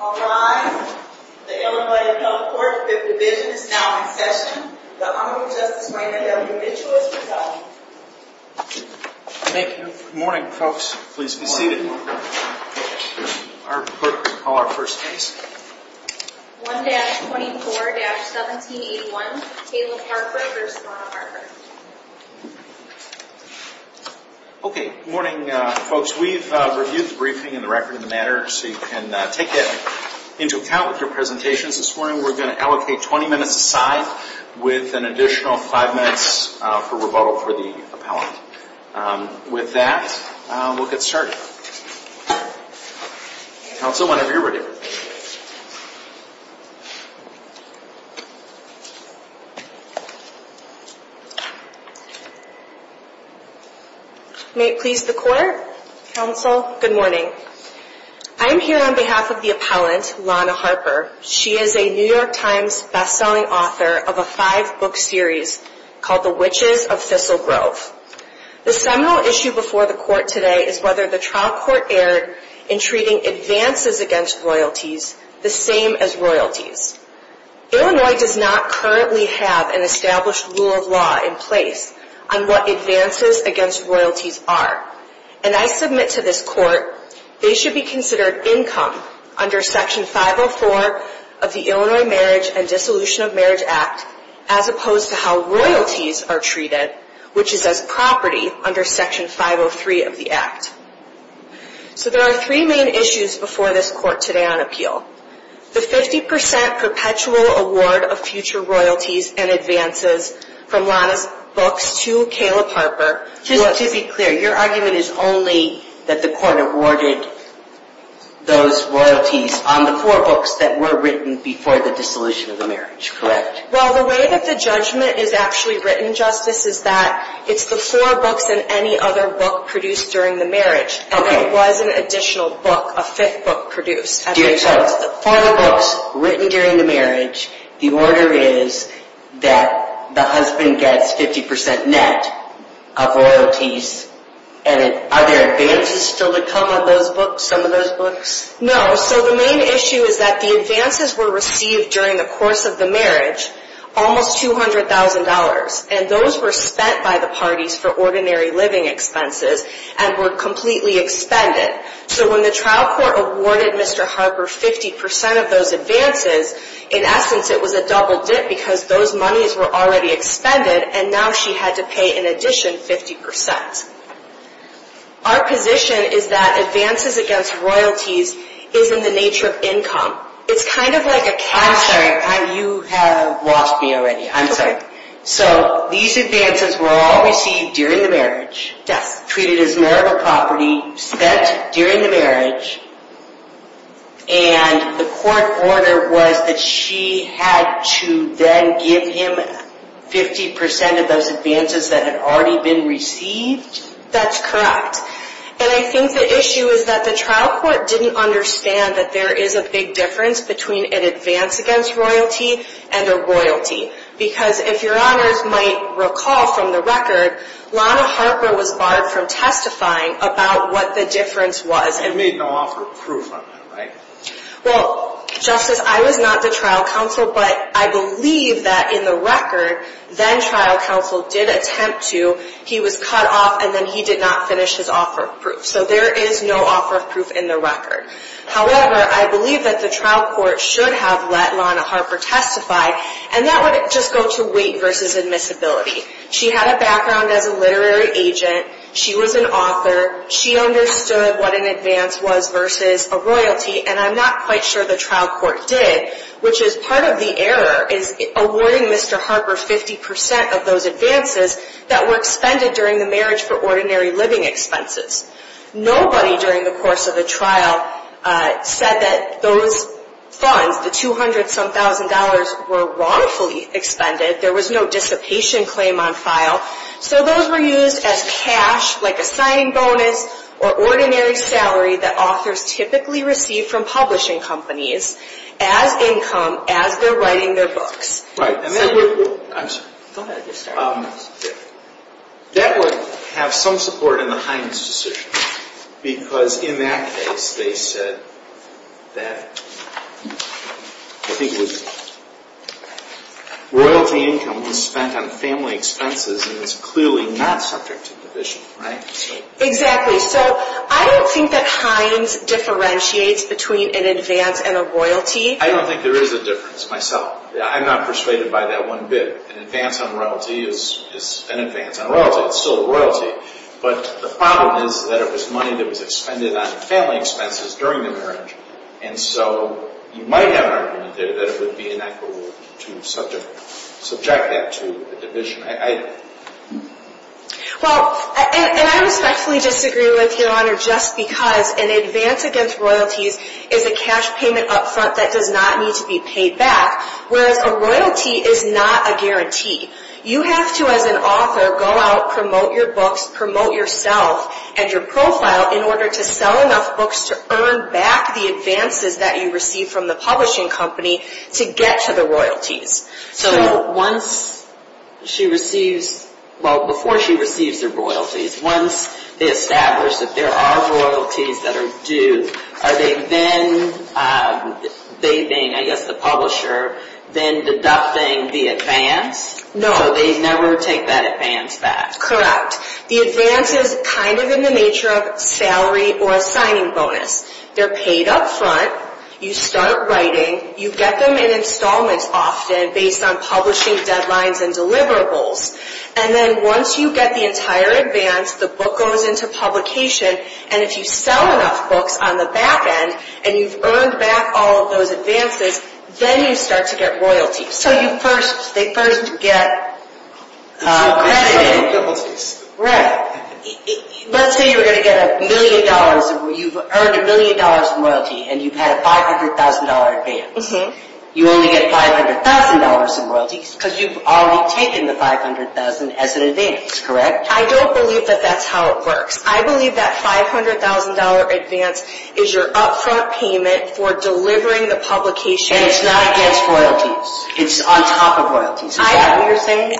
All rise. The Illinois Appellate Court, Fifth Division, is now in session. The Honorable Justice Rainer W. Mitchell is presiding. Thank you. Good morning, folks. Please be seated. Our clerk will call our first case. 1-24-1781 Caleb Harper v. Lana Harper Good morning, folks. We've reviewed the briefing and the record of the matter so you can take that into account with your presentations. This morning we're going to allocate 20 minutes aside with an additional 5 minutes for rebuttal for the appellant. With that, we'll get started. Counsel, whenever you're ready. May it please the Court. Counsel, good morning. I am here on behalf of the appellant, Lana Harper. She is a New York Times best-selling author of a five-book series called The Witches of Thistle Grove. The seminal issue before the Court today is whether the trial court erred in treating advances against royalties the same as royalties. Illinois does not currently have an established rule of law in place on what advances against royalties are. And I submit to this Court they should be considered income under Section 504 of the Illinois Marriage and Dissolution of Marriage Act as opposed to how royalties are treated, which is as property under Section 503 of the Act. So there are three main issues before this Court today on appeal. The 50% perpetual award of future royalties and advances from Lana's books to Caleb Harper. Just to be clear, your argument is only that the Court awarded those royalties on the four books that were written before the dissolution of the marriage, correct? Well, the way that the judgment is actually written, Justice, is that it's the four books and any other book produced during the marriage. Okay. And there was an additional book, a fifth book produced. Dear Judge, for the books written during the marriage, the order is that the husband gets 50% net of royalties. And are there advances still to come on those books, some of those books? No. So the main issue is that the advances were received during the course of the marriage, almost $200,000. And those were spent by the parties for ordinary living expenses and were completely expended. So when the trial court awarded Mr. Harper 50% of those advances, in essence, it was a double dip because those monies were already expended, and now she had to pay an addition 50%. Our position is that advances against royalties is in the nature of income. It's kind of like a cash… I'm sorry. You have lost me already. I'm sorry. Okay. So these advances were all received during the marriage. Yes. Treated as marital property, spent during the marriage, and the court order was that she had to then give him 50% of those advances that had already been received? That's correct. And I think the issue is that the trial court didn't understand that there is a big difference between an advance against royalty and a royalty. Because if your honors might recall from the record, Lana Harper was barred from testifying about what the difference was. It made no offer of proof on that, right? Well, Justice, I was not the trial counsel, but I believe that in the record, then-trial counsel did attempt to. He was cut off, and then he did not finish his offer of proof. So there is no offer of proof in the record. However, I believe that the trial court should have let Lana Harper testify, and that would just go to weight versus admissibility. She had a background as a literary agent. She was an author. She understood what an advance was versus a royalty, and I'm not quite sure the trial court did, which is part of the error is awarding Mr. Harper 50% of those advances that were expended during the marriage for ordinary living expenses. Nobody during the course of the trial said that those funds, the $200-some-thousand, were wrongfully expended. There was no dissipation claim on file. So those were used as cash, like a signing bonus or ordinary salary that authors typically receive from publishing companies as income as they're writing their books. I'm sorry. That would have some support in the Hines decision, because in that case they said that I think it was royalty income was spent on family expenses, and it's clearly not subject to division, right? Exactly. So I don't think that Hines differentiates between an advance and a royalty. I don't think there is a difference myself. I'm not persuaded by that one bit. An advance on royalty is an advance on royalty. It's still royalty, but the problem is that it was money that was expended on family expenses during the marriage, and so you might have an argument there that it would be inequitable to subject that to a division. Well, and I respectfully disagree with Your Honor just because an advance against royalties is a cash payment up front that does not need to be paid back, whereas a royalty is not a guarantee. You have to, as an author, go out, promote your books, promote yourself and your profile in order to sell enough books to earn back the advances that you receive from the publishing company to get to the royalties. So once she receives – well, before she receives her royalties, once they establish that there are royalties that are due, are they then – they being, I guess, the publisher – then deducting the advance? No. So they never take that advance back? Correct. The advance is kind of in the nature of salary or a signing bonus. They're paid up front. You start writing. You get them in installments often based on publishing deadlines and deliverables, and then once you get the entire advance, the book goes into publication, and if you sell enough books on the back end and you've earned back all of those advances, then you start to get royalties. So you first – they first get credit. It's royalties. Right. Let's say you were going to get a million dollars – you've earned a million dollars in royalty and you've had a $500,000 advance. You only get $500,000 in royalties because you've already taken the $500,000 as an advance, correct? I don't believe that that's how it works. I believe that $500,000 advance is your up-front payment for delivering the publication. And it's not against royalties. It's on top of royalties. Is that what you're saying?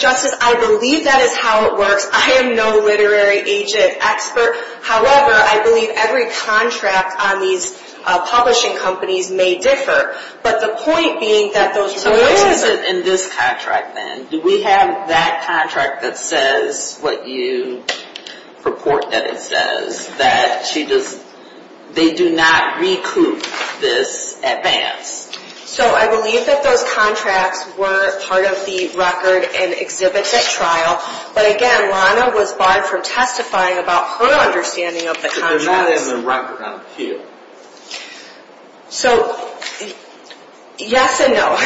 Justice, I believe that is how it works. I am no literary agent expert. However, I believe every contract on these publishing companies may differ. But the point being that those royalties – So what is it in this contract then? Do we have that contract that says what you purport that it says, that they do not recoup this advance? So I believe that those contracts were part of the record and exhibit at trial. But again, Lana was barred from testifying about her understanding of the contracts. But they're not in the record, aren't they? So, yes and no.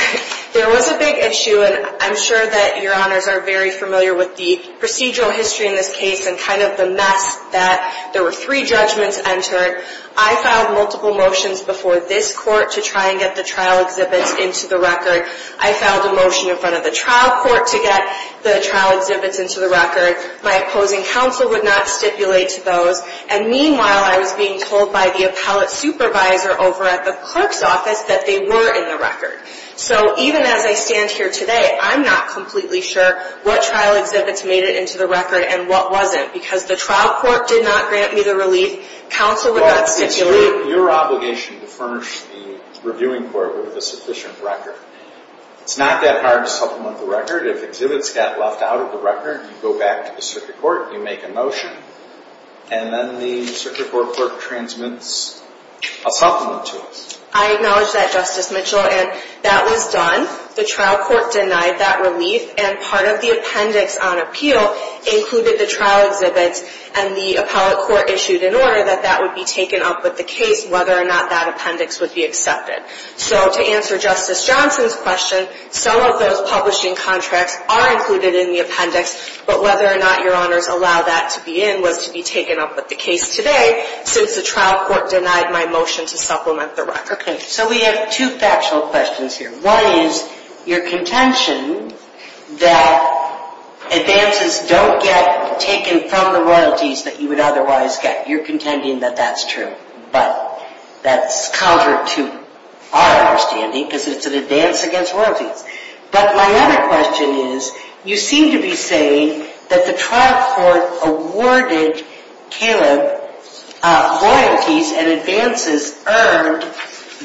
There was a big issue, and I'm sure that your honors are very familiar with the procedural history in this case and kind of the mess that there were three judgments entered. I filed multiple motions before this court to try and get the trial exhibits into the record. I filed a motion in front of the trial court to get the trial exhibits into the record. My opposing counsel would not stipulate to those. And meanwhile, I was being told by the appellate supervisor over at the clerk's office that they were in the record. So even as I stand here today, I'm not completely sure what trial exhibits made it into the record and what wasn't. Because the trial court did not grant me the relief. Counsel would not stipulate. Your obligation to furnish the reviewing court with a sufficient record. It's not that hard to supplement the record. If exhibits got left out of the record, you go back to the circuit court, you make a motion, and then the circuit court clerk transmits a supplement to us. I acknowledge that, Justice Mitchell, and that was done. The trial court denied that relief, and part of the appendix on appeal included the trial exhibits, and the appellate court issued an order that that would be taken up with the case, whether or not that appendix would be accepted. So to answer Justice Johnson's question, some of those publishing contracts are included in the appendix, but whether or not Your Honors allow that to be in was to be taken up with the case today, since the trial court denied my motion to supplement the record. Okay. So we have two factual questions here. One is your contention that advances don't get taken from the royalties that you would otherwise get. You're contending that that's true, but that's counter to our understanding, because it's an advance against royalties. But my other question is, you seem to be saying that the trial court awarded Caleb royalties and advances earned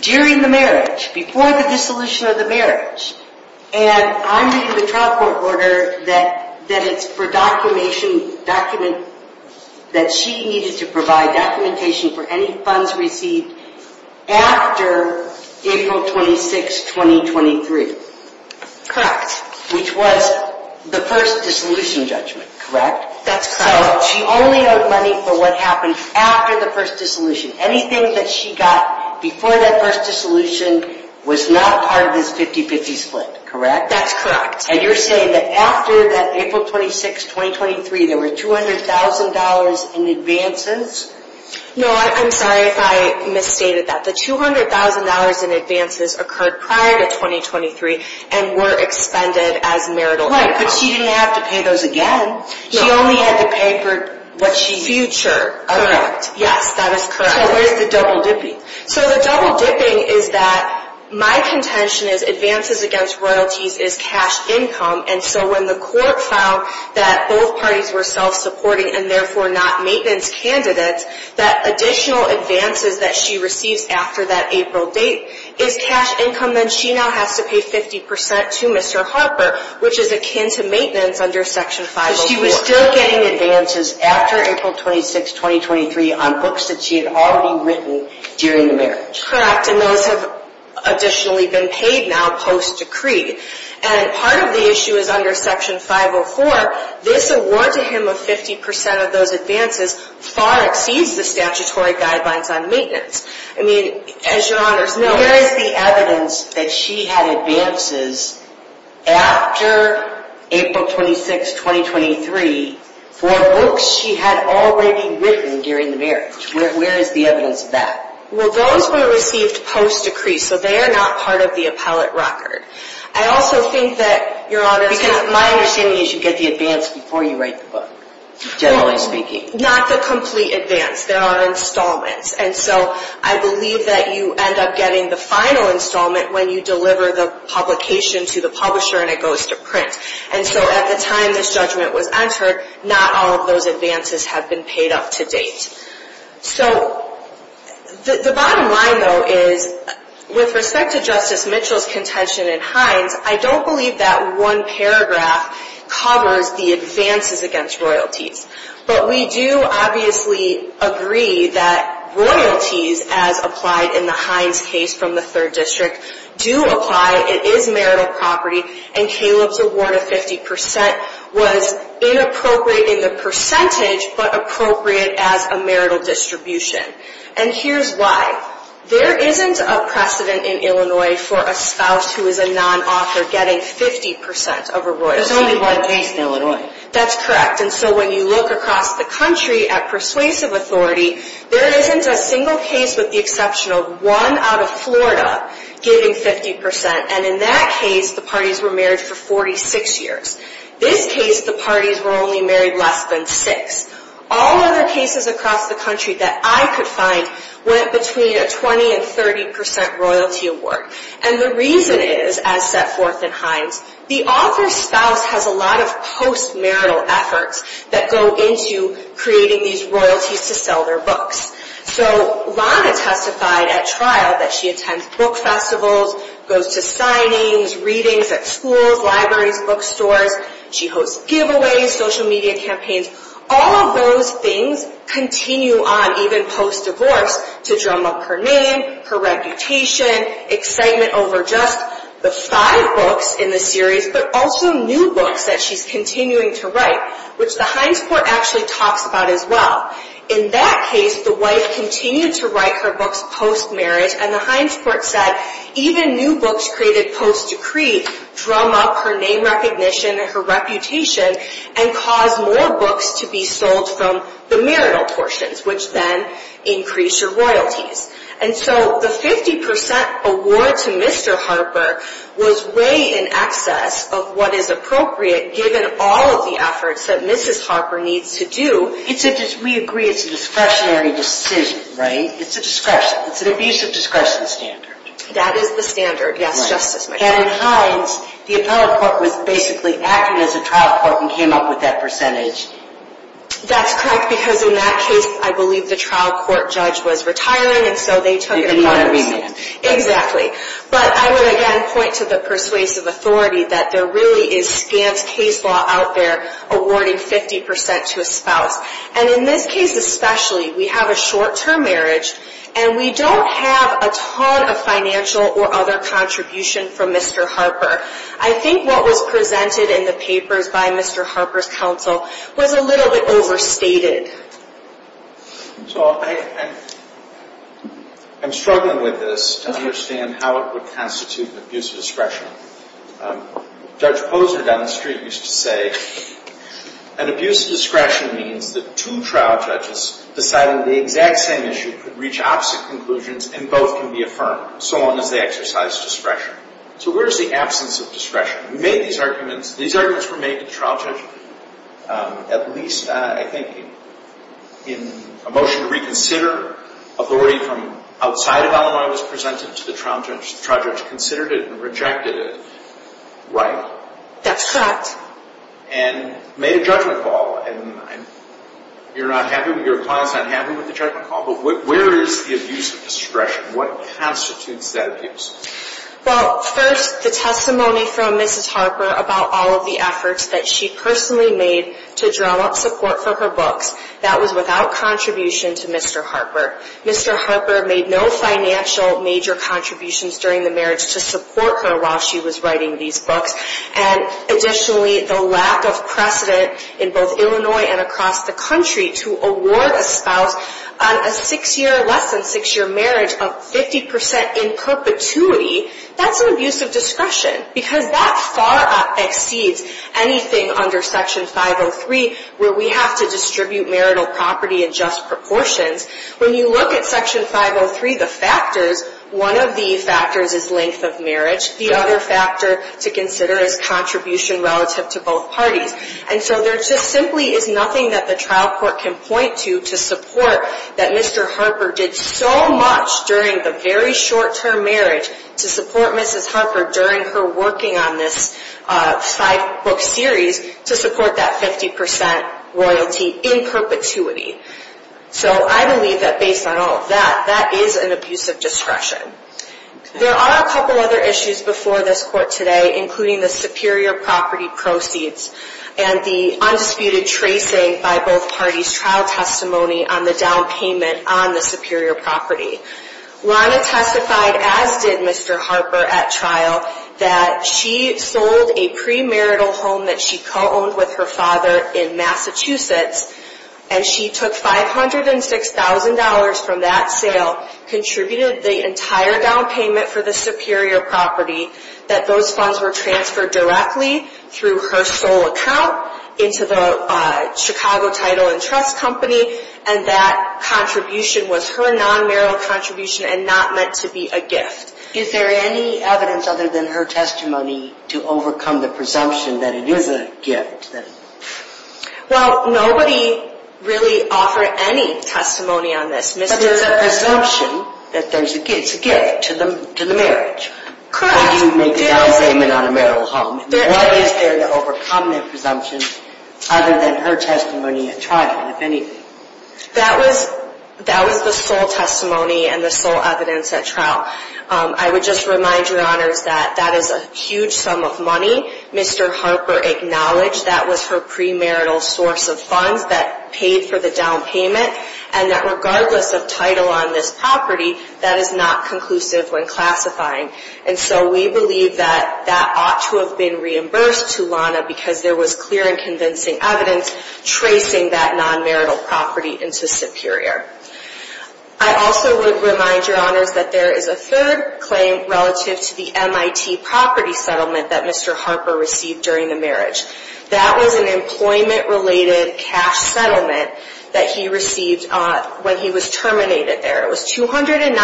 during the marriage, before the dissolution of the marriage, and I'm reading the trial court order that it's for documentation, that she needed to provide documentation for any funds received after April 26, 2023. Correct. Which was the first dissolution judgment, correct? That's correct. So she only owed money for what happened after the first dissolution. Anything that she got before that first dissolution was not part of this 50-50 split, correct? That's correct. And you're saying that after that April 26, 2023, there were $200,000 in advances? No, I'm sorry if I misstated that. The $200,000 in advances occurred prior to 2023 and were expended as marital income. Right, but she didn't have to pay those again. She only had to pay for what she owed. Correct. Yes, that is correct. So what is the double-dipping? So the double-dipping is that my contention is advances against royalties is cash income, and so when the court found that both parties were self-supporting and therefore not maintenance candidates, that additional advances that she receives after that April date is cash income, then she now has to pay 50% to Mr. Harper, which is akin to maintenance under Section 501. So she was still getting advances after April 26, 2023, on books that she had already written during the marriage. Correct, and those have additionally been paid now post-decree. And part of the issue is under Section 504, this award to him of 50% of those advances far exceeds the statutory guidelines on maintenance. I mean, as Your Honors know— Where is the evidence that she had advances after April 26, 2023 for books she had already written during the marriage? Where is the evidence of that? Well, those were received post-decree, so they are not part of the appellate record. I also think that Your Honors— Because my understanding is you get the advance before you write the book, generally speaking. Not the complete advance. There are installments. And so I believe that you end up getting the final installment when you deliver the publication to the publisher and it goes to print. And so at the time this judgment was entered, not all of those advances have been paid up to date. So the bottom line, though, is with respect to Justice Mitchell's contention in Hines, I don't believe that one paragraph covers the advances against royalties. But we do obviously agree that royalties, as applied in the Hines case from the 3rd District, do apply. It is marital property, and Caleb's award of 50% was inappropriate in the percentage, but appropriate as a marital distribution. And here's why. There isn't a precedent in Illinois for a spouse who is a non-author getting 50% of a royalty. There's only one case in Illinois. That's correct. And so when you look across the country at persuasive authority, there isn't a single case with the exception of one out of Florida getting 50%. And in that case, the parties were married for 46 years. This case, the parties were only married less than six. All other cases across the country that I could find went between a 20% and 30% royalty award. And the reason is, as set forth in Hines, the author's spouse has a lot of post-marital efforts that go into creating these royalties to sell their books. So Lana testified at trial that she attends book festivals, goes to signings, readings at schools, libraries, bookstores. She hosts giveaways, social media campaigns. All of those things continue on, even post-divorce, to drum up her name, her reputation, excitement over just the five books in the series, but also new books that she's continuing to write, which the Hines Court actually talks about as well. In that case, the wife continued to write her books post-marriage, and the Hines Court said even new books created post-decree drum up her name recognition and her reputation and cause more books to be sold from the marital portions, which then increased her royalties. And so the 50% award to Mr. Harper was way in excess of what is appropriate, given all of the efforts that Mrs. Harper needs to do. We agree it's a discretionary decision, right? It's a discretion. It's an abuse of discretion standard. That is the standard, yes, Justice Mitchell. And in Hines, the appellate court was basically acting as a trial court and came up with that percentage. That's correct, because in that case, I believe the trial court judge was retiring, and so they took it apart. Exactly. But I would again point to the persuasive authority that there really is scant case law out there awarding 50% to a spouse. And in this case especially, we have a short-term marriage, and we don't have a ton of financial or other contribution from Mr. Harper. I think what was presented in the papers by Mr. Harper's counsel was a little bit overstated. So I'm struggling with this to understand how it would constitute an abuse of discretion. Judge Posner down the street used to say, an abuse of discretion means that two trial judges deciding the exact same issue could reach opposite conclusions and both can be affirmed, so long as they exercise discretion. So where is the absence of discretion? We made these arguments. These arguments were made to the trial judge at least, I think, in a motion to reconsider authority from outside of Illinois was presented to the trial judge. The trial judge considered it and rejected it. Right. That's fact. And made a judgment call. And you're not happy with – your client's not happy with the judgment call. But where is the abuse of discretion? What constitutes that abuse? Well, first, the testimony from Mrs. Harper about all of the efforts that she personally made to draw up support for her books. That was without contribution to Mr. Harper. Mr. Harper made no financial major contributions during the marriage to support her while she was writing these books. And additionally, the lack of precedent in both Illinois and across the country to award a spouse on a six-year – less than six-year marriage of 50 percent in perpetuity, that's an abuse of discretion. Because that far exceeds anything under Section 503 where we have to distribute marital property in just proportions. When you look at Section 503, the factors, one of the factors is length of marriage. The other factor to consider is contribution relative to both parties. And so there just simply is nothing that the trial court can point to to support that Mr. Harper did so much during the very short-term marriage to support Mrs. Harper during her working on this five-book series to support that 50 percent royalty in perpetuity. So I believe that based on all of that, that is an abuse of discretion. There are a couple other issues before this court today, including the superior property proceeds and the undisputed tracing by both parties' trial testimony on the down payment on the superior property. Lana testified, as did Mr. Harper at trial, that she sold a premarital home that she co-owned with her father in Massachusetts, and she took $506,000 from that sale, contributed the entire down payment for the superior property, that those funds were transferred directly through her sole account into the Chicago Title and Trust Company, and that contribution was her non-marital contribution and not meant to be a gift. Is there any evidence other than her testimony to overcome the presumption that it is a gift? Well, nobody really offered any testimony on this, Mr. Harper. But there's a presumption that it's a gift to the marriage. Correct. How do you make a down payment on a marital home? What is there to overcome the presumption other than her testimony at trial, if anything? That was the sole testimony and the sole evidence at trial. I would just remind Your Honors that that is a huge sum of money. Mr. Harper acknowledged that was her premarital source of funds that paid for the down payment, and that regardless of title on this property, that is not conclusive when classifying. And so we believe that that ought to have been reimbursed to Lana because there was clear and convincing evidence tracing that non-marital property into superior. I also would remind Your Honors that there is a third claim relative to the MIT property settlement that Mr. Harper received during the marriage. That was an employment-related cash settlement that he received when he was terminated there. It was $290,000,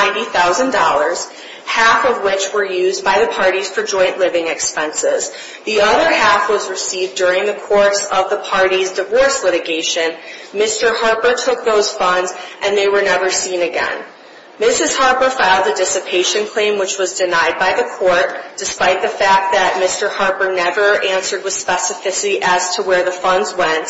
half of which were used by the parties for joint living expenses. The other half was received during the course of the parties' divorce litigation. Mr. Harper took those funds, and they were never seen again. Mrs. Harper filed a dissipation claim, which was denied by the court, despite the fact that Mr. Harper never answered with specificity as to where the funds went.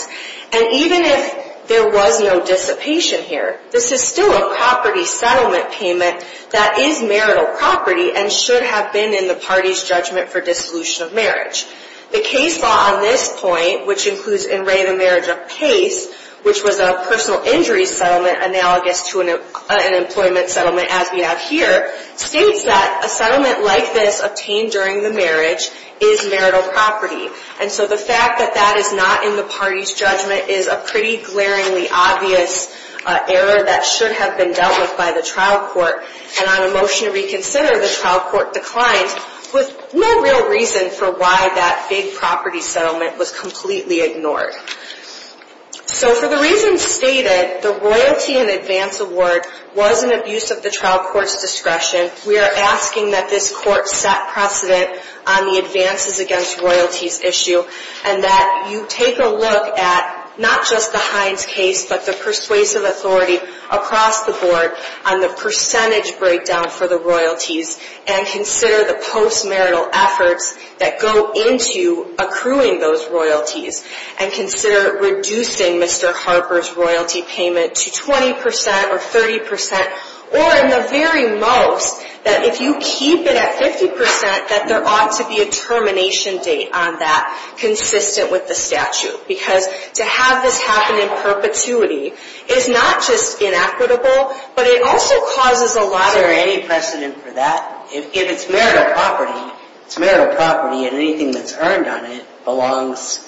And even if there was no dissipation here, this is still a property settlement payment that is marital property and should have been in the parties' judgment for dissolution of marriage. The case law on this point, which includes in Ray the Marriage of Pace, which was a personal injury settlement analogous to an employment settlement as we have here, states that a settlement like this obtained during the marriage is marital property. And so the fact that that is not in the parties' judgment is a pretty glaringly obvious error that should have been dealt with by the trial court. And on a motion to reconsider, the trial court declined with no real reason for why that big property settlement was completely ignored. So for the reasons stated, the royalty in advance award was an abuse of the trial court's discretion. We are asking that this court set precedent on the advances against royalties issue and that you take a look at not just the Hines case, but the persuasive authority across the board on the percentage breakdown for the royalties and consider the post-marital efforts that go into accruing those royalties and consider reducing Mr. Harper's royalty payment to 20% or 30%, or in the very most, that if you keep it at 50%, that there ought to be a termination date on that consistent with the statute. Because to have this happen in perpetuity is not just inequitable, but it also causes a lot of... Is there any precedent for that? If it's marital property, it's marital property and anything that's earned on it belongs,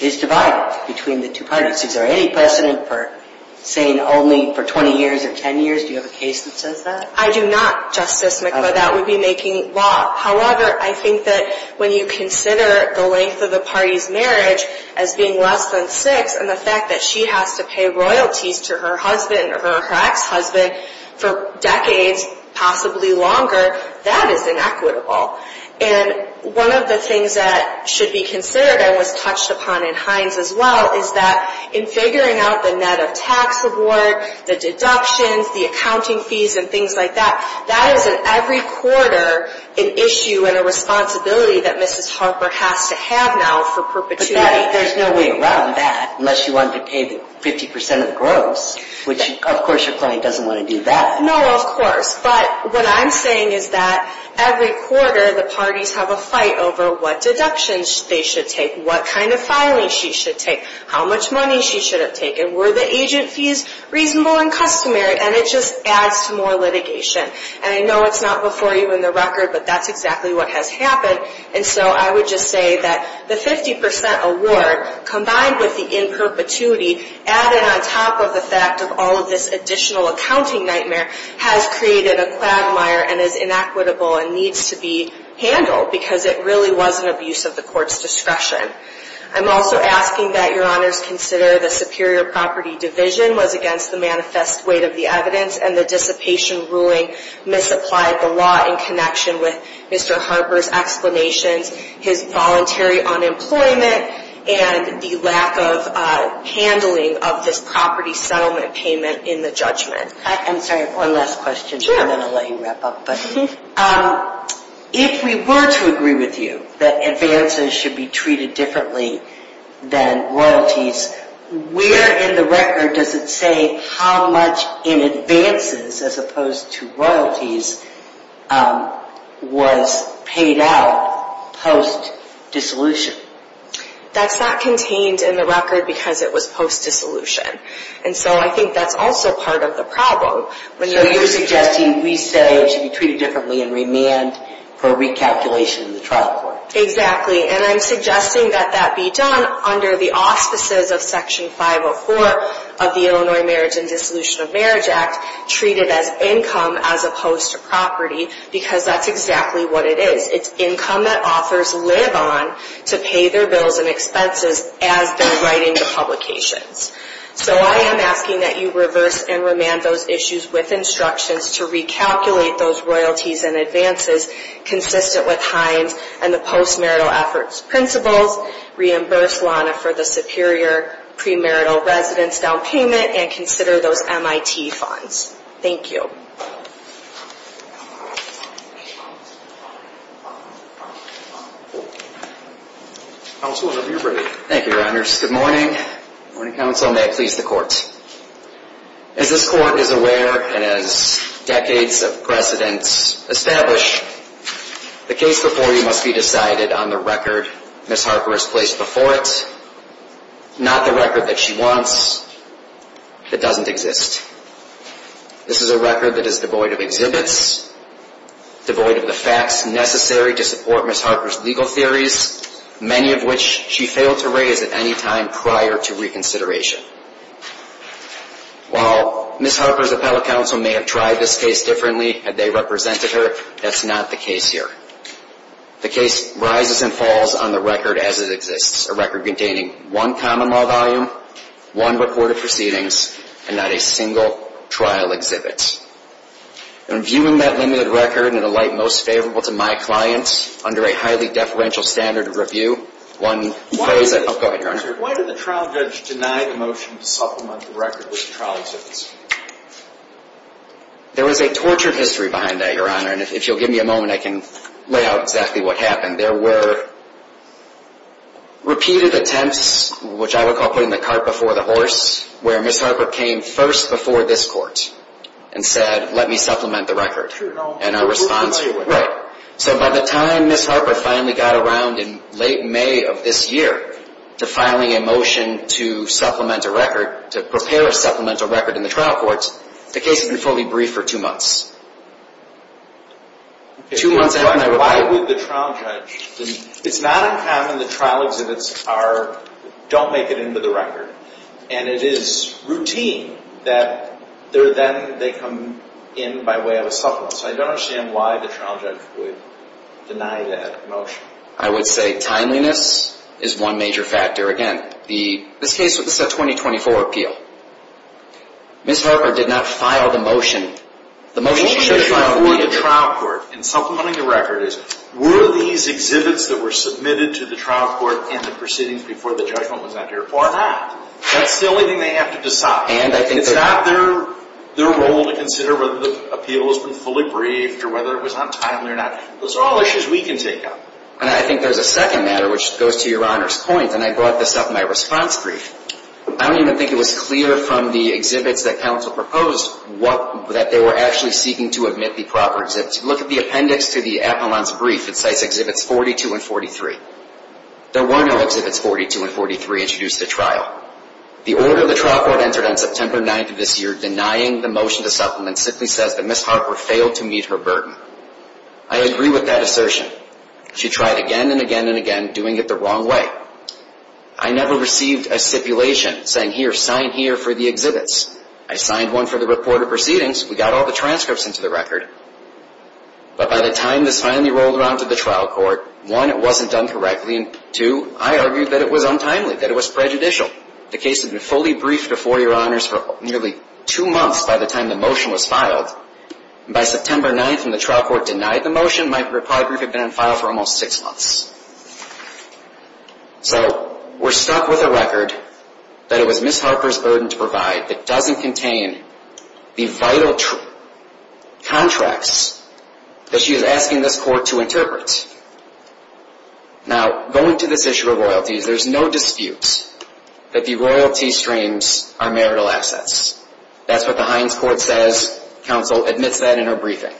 is divided between the two parties. Is there any precedent for saying only for 20 years or 10 years? Do you have a case that says that? I do not, Justice McLeod. That would be making law. However, I think that when you consider the length of the party's marriage as being less than six and the fact that she has to pay royalties to her husband or her ex-husband for decades, possibly longer, that is inequitable. And one of the things that should be considered and was touched upon in Hines as well is that in figuring out the net of tax reward, the deductions, the accounting fees and things like that, that is at every quarter an issue and a responsibility that Mrs. Harper has to have now for perpetuity. But there's no way around that unless you want to pay the 50% of the gross, which of course your client doesn't want to do that. No, of course. But what I'm saying is that every quarter the parties have a fight over what deductions they should take, what kind of filing she should take, how much money she should have taken, were the agent fees reasonable and customary, and it just adds to more litigation. And I know it's not before you in the record, but that's exactly what has happened. And so I would just say that the 50% award combined with the in perpetuity added on top of the fact of all of this additional accounting nightmare has created a quagmire and is inequitable and needs to be handled because it really was an abuse of the court's discretion. I'm also asking that your honors consider the superior property division was against the manifest weight of the evidence and the dissipation ruling misapplied the law in connection with Mr. Harper's explanations, his voluntary unemployment, and the lack of handling of this property settlement payment in the judgment. I'm sorry, one last question and then I'll let you wrap up. If we were to agree with you that advances should be treated differently than royalties, where in the record does it say how much in advances as opposed to royalties was paid out post-dissolution? That's not contained in the record because it was post-dissolution. And so I think that's also part of the problem. So you're suggesting we say it should be treated differently in remand for recalculation in the trial court? Exactly. And I'm suggesting that that be done under the auspices of Section 504 of the Illinois Marriage and Dissolution of Marriage Act, treated as income as opposed to property because that's exactly what it is. It's income that authors live on to pay their bills and expenses as they're writing the publications. So I am asking that you reverse and remand those issues with instructions to recalculate those royalties and advances consistent with Hines and the post-marital efforts principles, reimburse Lana for the superior pre-marital residence down payment, and consider those MIT funds. Thank you. Thank you, Your Honors. Good morning. Good morning, counsel. May it please the court. As this court is aware and as decades of precedence establish, the case before you must be decided on the record Ms. Harper has placed before it, not the record that she wants that doesn't exist. This is a record that is devoid of exhibits, devoid of the facts necessary to support Ms. Harper's legal theories, many of which she failed to raise at any time prior to reconsideration. While Ms. Harper's appellate counsel may have tried this case differently had they represented her, that's not the case here. The case rises and falls on the record as it exists, a record containing one common law volume, one recorded proceedings, and not a single trial exhibit. And viewing that limited record in a light most favorable to my clients under a highly deferential standard of review, one plays a... Why did the trial judge deny the motion to supplement the record with trial exhibits? There was a tortured history behind that, Your Honor, and if you'll give me a moment I can lay out exactly what happened. There were repeated attempts, which I would call putting the cart before the horse, where Ms. Harper came first before this court and said, let me supplement the record. And our response... So by the time Ms. Harper finally got around in late May of this year to filing a motion to supplement a record, to prepare a supplemental record in the trial court, the case had been fully briefed for two months. Why would the trial judge... It's not uncommon that trial exhibits don't make it into the record, and it is routine that then they come in by way of a supplement. So I don't understand why the trial judge would deny that motion. I would say timeliness is one major factor. Again, this case was a 2024 appeal. Ms. Harper did not file the motion. The motion should have filed... The only issue before the trial court in supplementing the record is, were these exhibits that were submitted to the trial court in the proceedings before the judgment was entered or not? That's the only thing they have to decide. It's not their role to consider whether the appeal has been fully briefed or whether it was not timely or not. Those are all issues we can take up. And I think there's a second matter, which goes to Your Honor's point, and I brought this up in my response brief. I don't even think it was clear from the exhibits that counsel proposed that they were actually seeking to admit the proper exhibits. Look at the appendix to the appellant's brief. It cites Exhibits 42 and 43. There were no Exhibits 42 and 43 introduced at trial. The order the trial court entered on September 9th of this year denying the motion to supplement simply says that Ms. Harper failed to meet her burden. I agree with that assertion. She tried again and again and again, doing it the wrong way. I never received a stipulation saying, here, sign here for the exhibits. I signed one for the report of proceedings. We got all the transcripts into the record. But by the time this finally rolled around to the trial court, one, it wasn't done correctly, and two, I argued that it was untimely, that it was prejudicial. The case had been fully briefed before, Your Honors, for nearly two months by the time the motion was filed. By September 9th, when the trial court denied the motion, my reply brief had been in file for almost six months. So we're stuck with a record that it was Ms. Harper's burden to provide that doesn't contain the vital contracts that she is asking this court to interpret. Now, going to this issue of royalties, there's no dispute that the royalty streams are marital assets. That's what the Hines Court says. Counsel admits that in her briefing.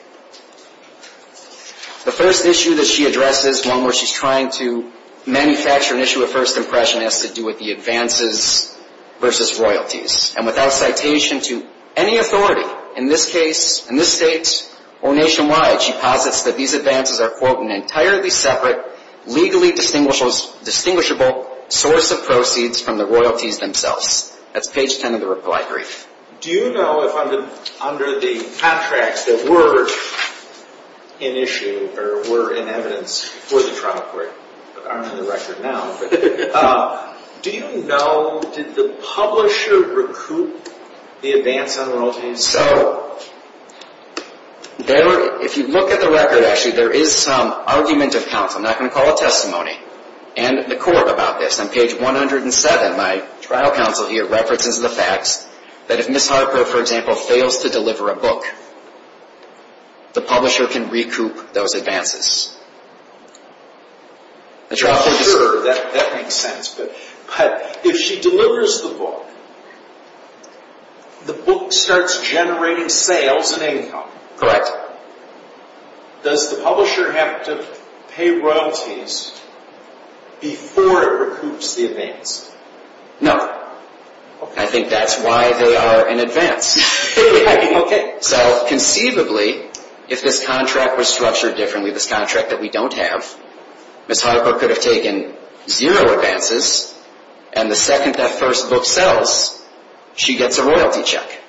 The first issue that she addresses, one where she's trying to manufacture an issue of first impression, has to do with the advances versus royalties. And without citation to any authority, in this case, in this state, or nationwide, she posits that these advances are, quote, an entirely separate, legally distinguishable source of proceeds from the royalties themselves. That's page 10 of the reply brief. Do you know if under the contracts that were in issue, or were in evidence for the trial court, aren't in the record now, but do you know, did the publisher recoup the advance on royalties? So, if you look at the record, actually, there is some argument of counsel. I'm not going to call a testimony, and the court about this. On page 107, my trial counsel here references the facts that if Ms. Harper, for example, fails to deliver a book, the publisher can recoup those advances. Sure, that makes sense. But if she delivers the book, the book starts generating sales and income. Correct. Does the publisher have to pay royalties before it recoups the advance? No. I think that's why they are in advance. Okay. So, conceivably, if this contract were structured differently, this contract that we don't have, Ms. Harper could have taken zero advances, and the second that first book sells, she gets a royalty check.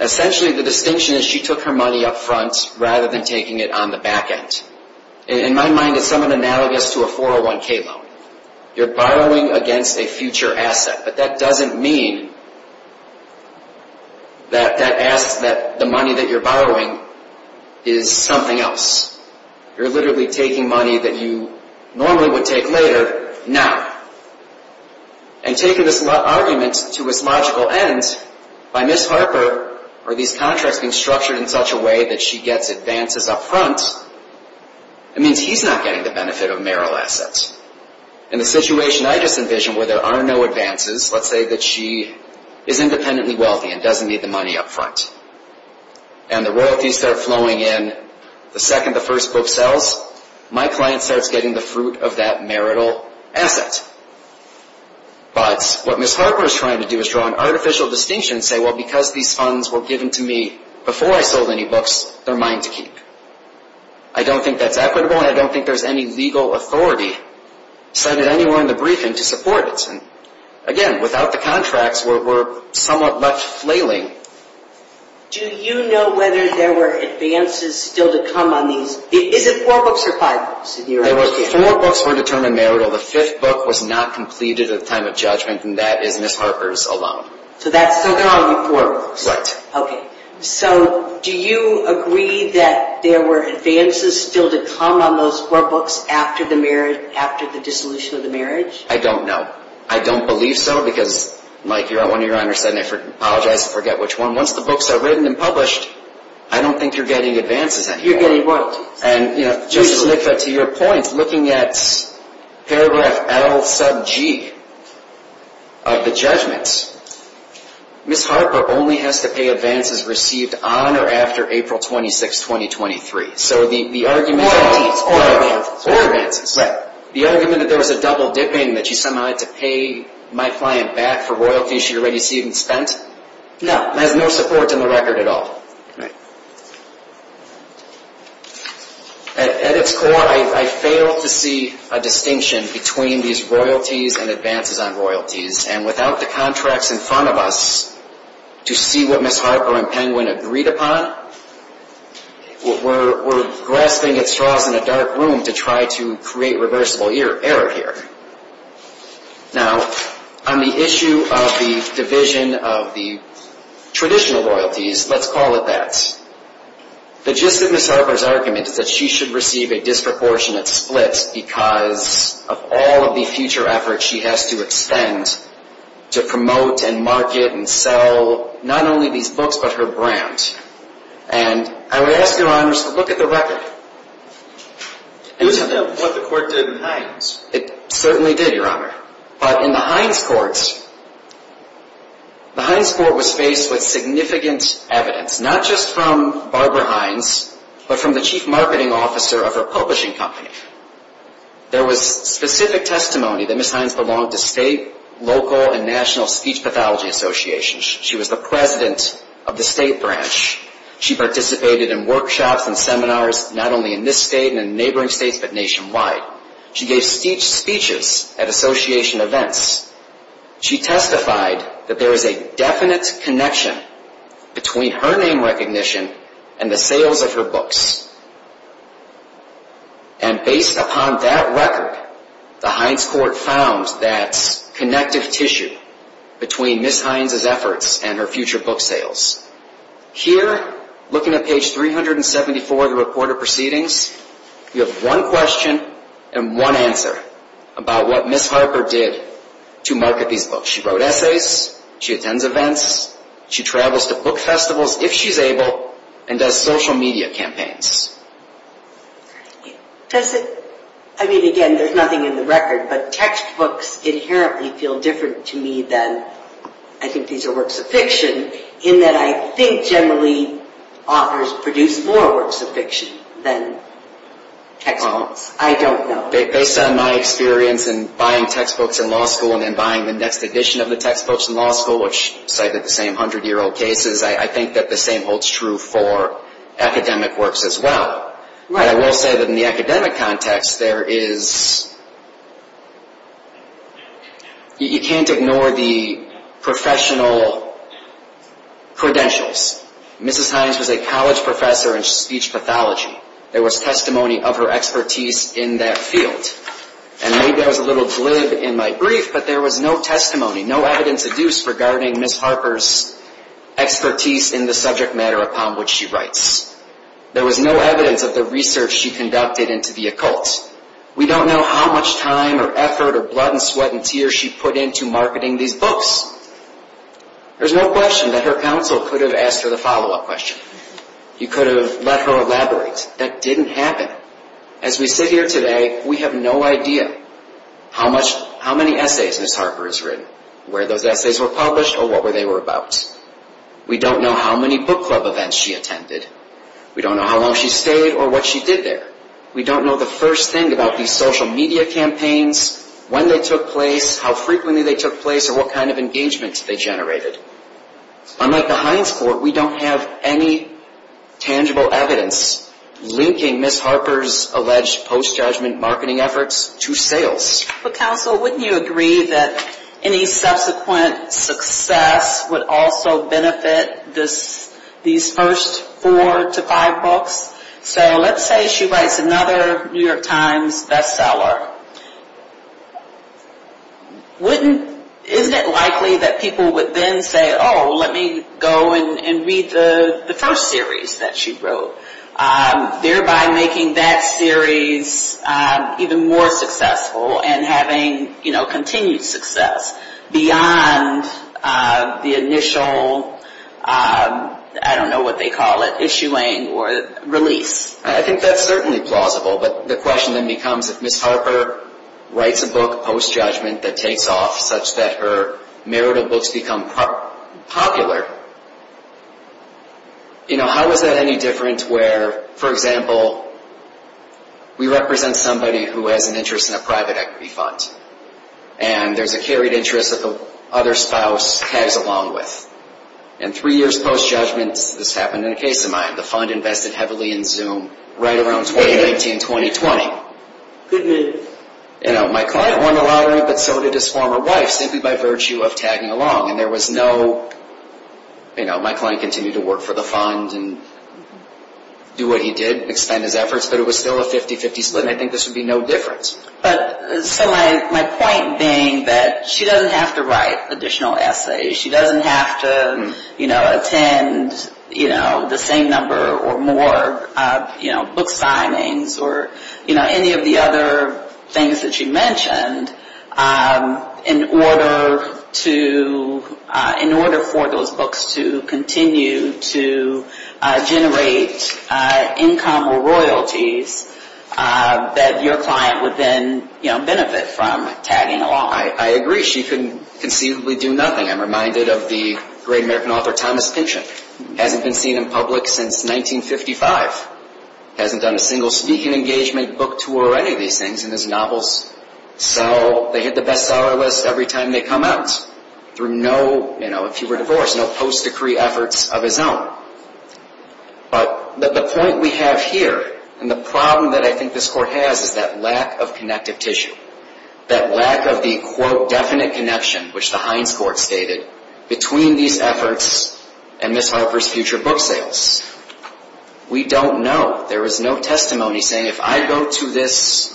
Essentially, the distinction is she took her money up front rather than taking it on the back end. In my mind, it's somewhat analogous to a 401k loan. You're borrowing against a future asset, but that doesn't mean that that asset, the money that you're borrowing, is something else. You're literally taking money that you normally would take later, now. And taking this argument to its logical end, by Ms. Harper, are these contracts being structured in such a way that she gets advances up front? It means he's not getting the benefit of marital assets. In the situation I just envisioned, where there are no advances, let's say that she is independently wealthy and doesn't need the money up front, and the royalties start flowing in the second the first book sells, my client starts getting the fruit of that marital asset. But what Ms. Harper is trying to do is draw an artificial distinction and say, well, because these funds were given to me before I sold any books, they're mine to keep. I don't think that's equitable, and I don't think there's any legal authority cited anywhere in the briefing to support it. Again, without the contracts, we're somewhat left flailing. Do you know whether there were advances still to come on these? Is it four books or five books? Four books were determined marital. The fifth book was not completed at the time of judgment, and that is Ms. Harper's alone. So there are only four books. Right. Okay. So do you agree that there were advances still to come on those four books after the dissolution of the marriage? I don't know. I don't believe so, because like one of your honors said, and I apologize if I forget which one, once the books are written and published, I don't think you're getting advances anymore. You're getting royalties. And just to make that to your point, looking at paragraph L sub G of the judgments, Ms. Harper only has to pay advances received on or after April 26, 2023. So the argument is four advances. Right. The argument that there was a double dipping, that she somehow had to pay my client back for royalties she had already received and spent? No. Has no support in the record at all? Right. At its core, I fail to see a distinction between these royalties and advances on royalties. And without the contracts in front of us to see what Ms. Harper and Penguin agreed upon, we're grasping at straws in a dark room to try to create reversible error here. Now, on the issue of the division of the traditional royalties, let's call it that. The gist of Ms. Harper's argument is that she should receive a disproportionate split because of all of the future efforts she has to extend to promote and market and sell not only these books, but her brand. And I would ask your honors to look at the record. This is what the court did in Hines. It certainly did, your honor. But in the Hines court, the Hines court was faced with significant evidence, not just from Barbara Hines, but from the chief marketing officer of her publishing company. There was specific testimony that Ms. Hines belonged to state, local, and national speech pathology associations. She was the president of the state branch. She participated in workshops and seminars not only in this state and in neighboring states, but nationwide. She gave speeches at association events. She testified that there is a definite connection between her name recognition and the sales of her books. And based upon that record, the Hines court found that connective tissue between Ms. Hines' efforts and her future book sales. Here, looking at page 374 of the report of proceedings, you have one question and one answer about what Ms. Harper did to market these books. She wrote essays. She attends events. She travels to book festivals, if she's able, and does social media campaigns. I mean, again, there's nothing in the record, but textbooks inherently feel different to me than I think these are works of fiction in that I think generally authors produce more works of fiction than textbooks. I don't know. Based on my experience in buying textbooks in law school and then buying the next edition of the textbooks in law school, which cited the same 100-year-old cases, I think that the same holds true for academic works as well. Right. I will say that in the academic context, there is... You can't ignore the professional credentials. Mrs. Hines was a college professor in speech pathology. There was testimony of her expertise in that field. And maybe I was a little glib in my brief, but there was no testimony, no evidence adduced regarding Ms. Harper's expertise in the subject matter upon which she writes. There was no evidence of the research she conducted into the occult. We don't know how much time or effort or blood and sweat and tears she put into marketing these books. There's no question that her counsel could have asked her the follow-up question. You could have let her elaborate. That didn't happen. As we sit here today, we have no idea how many essays Ms. Harper has written, where those essays were published, or what they were about. We don't know how many book club events she attended. We don't know how long she stayed or what she did there. We don't know the first thing about these social media campaigns, when they took place, how frequently they took place, or what kind of engagement they generated. Unlike the Hines Court, we don't have any tangible evidence linking Ms. Harper's alleged post-judgment marketing efforts to sales. Well, counsel, wouldn't you agree that any subsequent success would also benefit these first four to five books? So let's say she writes another New York Times bestseller. Isn't it likely that people would then say, oh, let me go and read the first series that she wrote, thereby making that series even more successful and having continued success beyond the initial, I don't know what they call it, issuing or release? I think that's certainly plausible. But the question then becomes, if Ms. Harper writes a book post-judgment that takes off such that her marital books become popular, how is that any different where, for example, we represent somebody who has an interest in a private equity fund, and there's a carried interest that the other spouse tags along with. And three years post-judgment, this happened in a case of mine, the fund invested heavily in Zoom right around 2019, 2020. My client won the lottery, but so did his former wife, simply by virtue of tagging along. My client continued to work for the fund and do what he did, extend his efforts, but it was still a 50-50 split, and I think this would be no difference. So my point being that she doesn't have to write additional essays. She doesn't have to attend the same number or more book signings or any of the other things that you mentioned in order for those books to continue to generate income or royalties that your client would then benefit from tagging along. I agree. She can conceivably do nothing. I'm reminded of the great American author Thomas Pynchon. Hasn't been seen in public since 1955. Hasn't done a single speaking engagement book tour or any of these things in his novels. So they hit the bestseller list every time they come out, through no, if he were divorced, no post-decree efforts of his own. But the point we have here, and the problem that I think this Court has, is that lack of connective tissue. That lack of the, quote, definite connection, which the Hines Court stated, between these efforts and Miss Harper's future book sales. We don't know. There was no testimony saying, if I go to this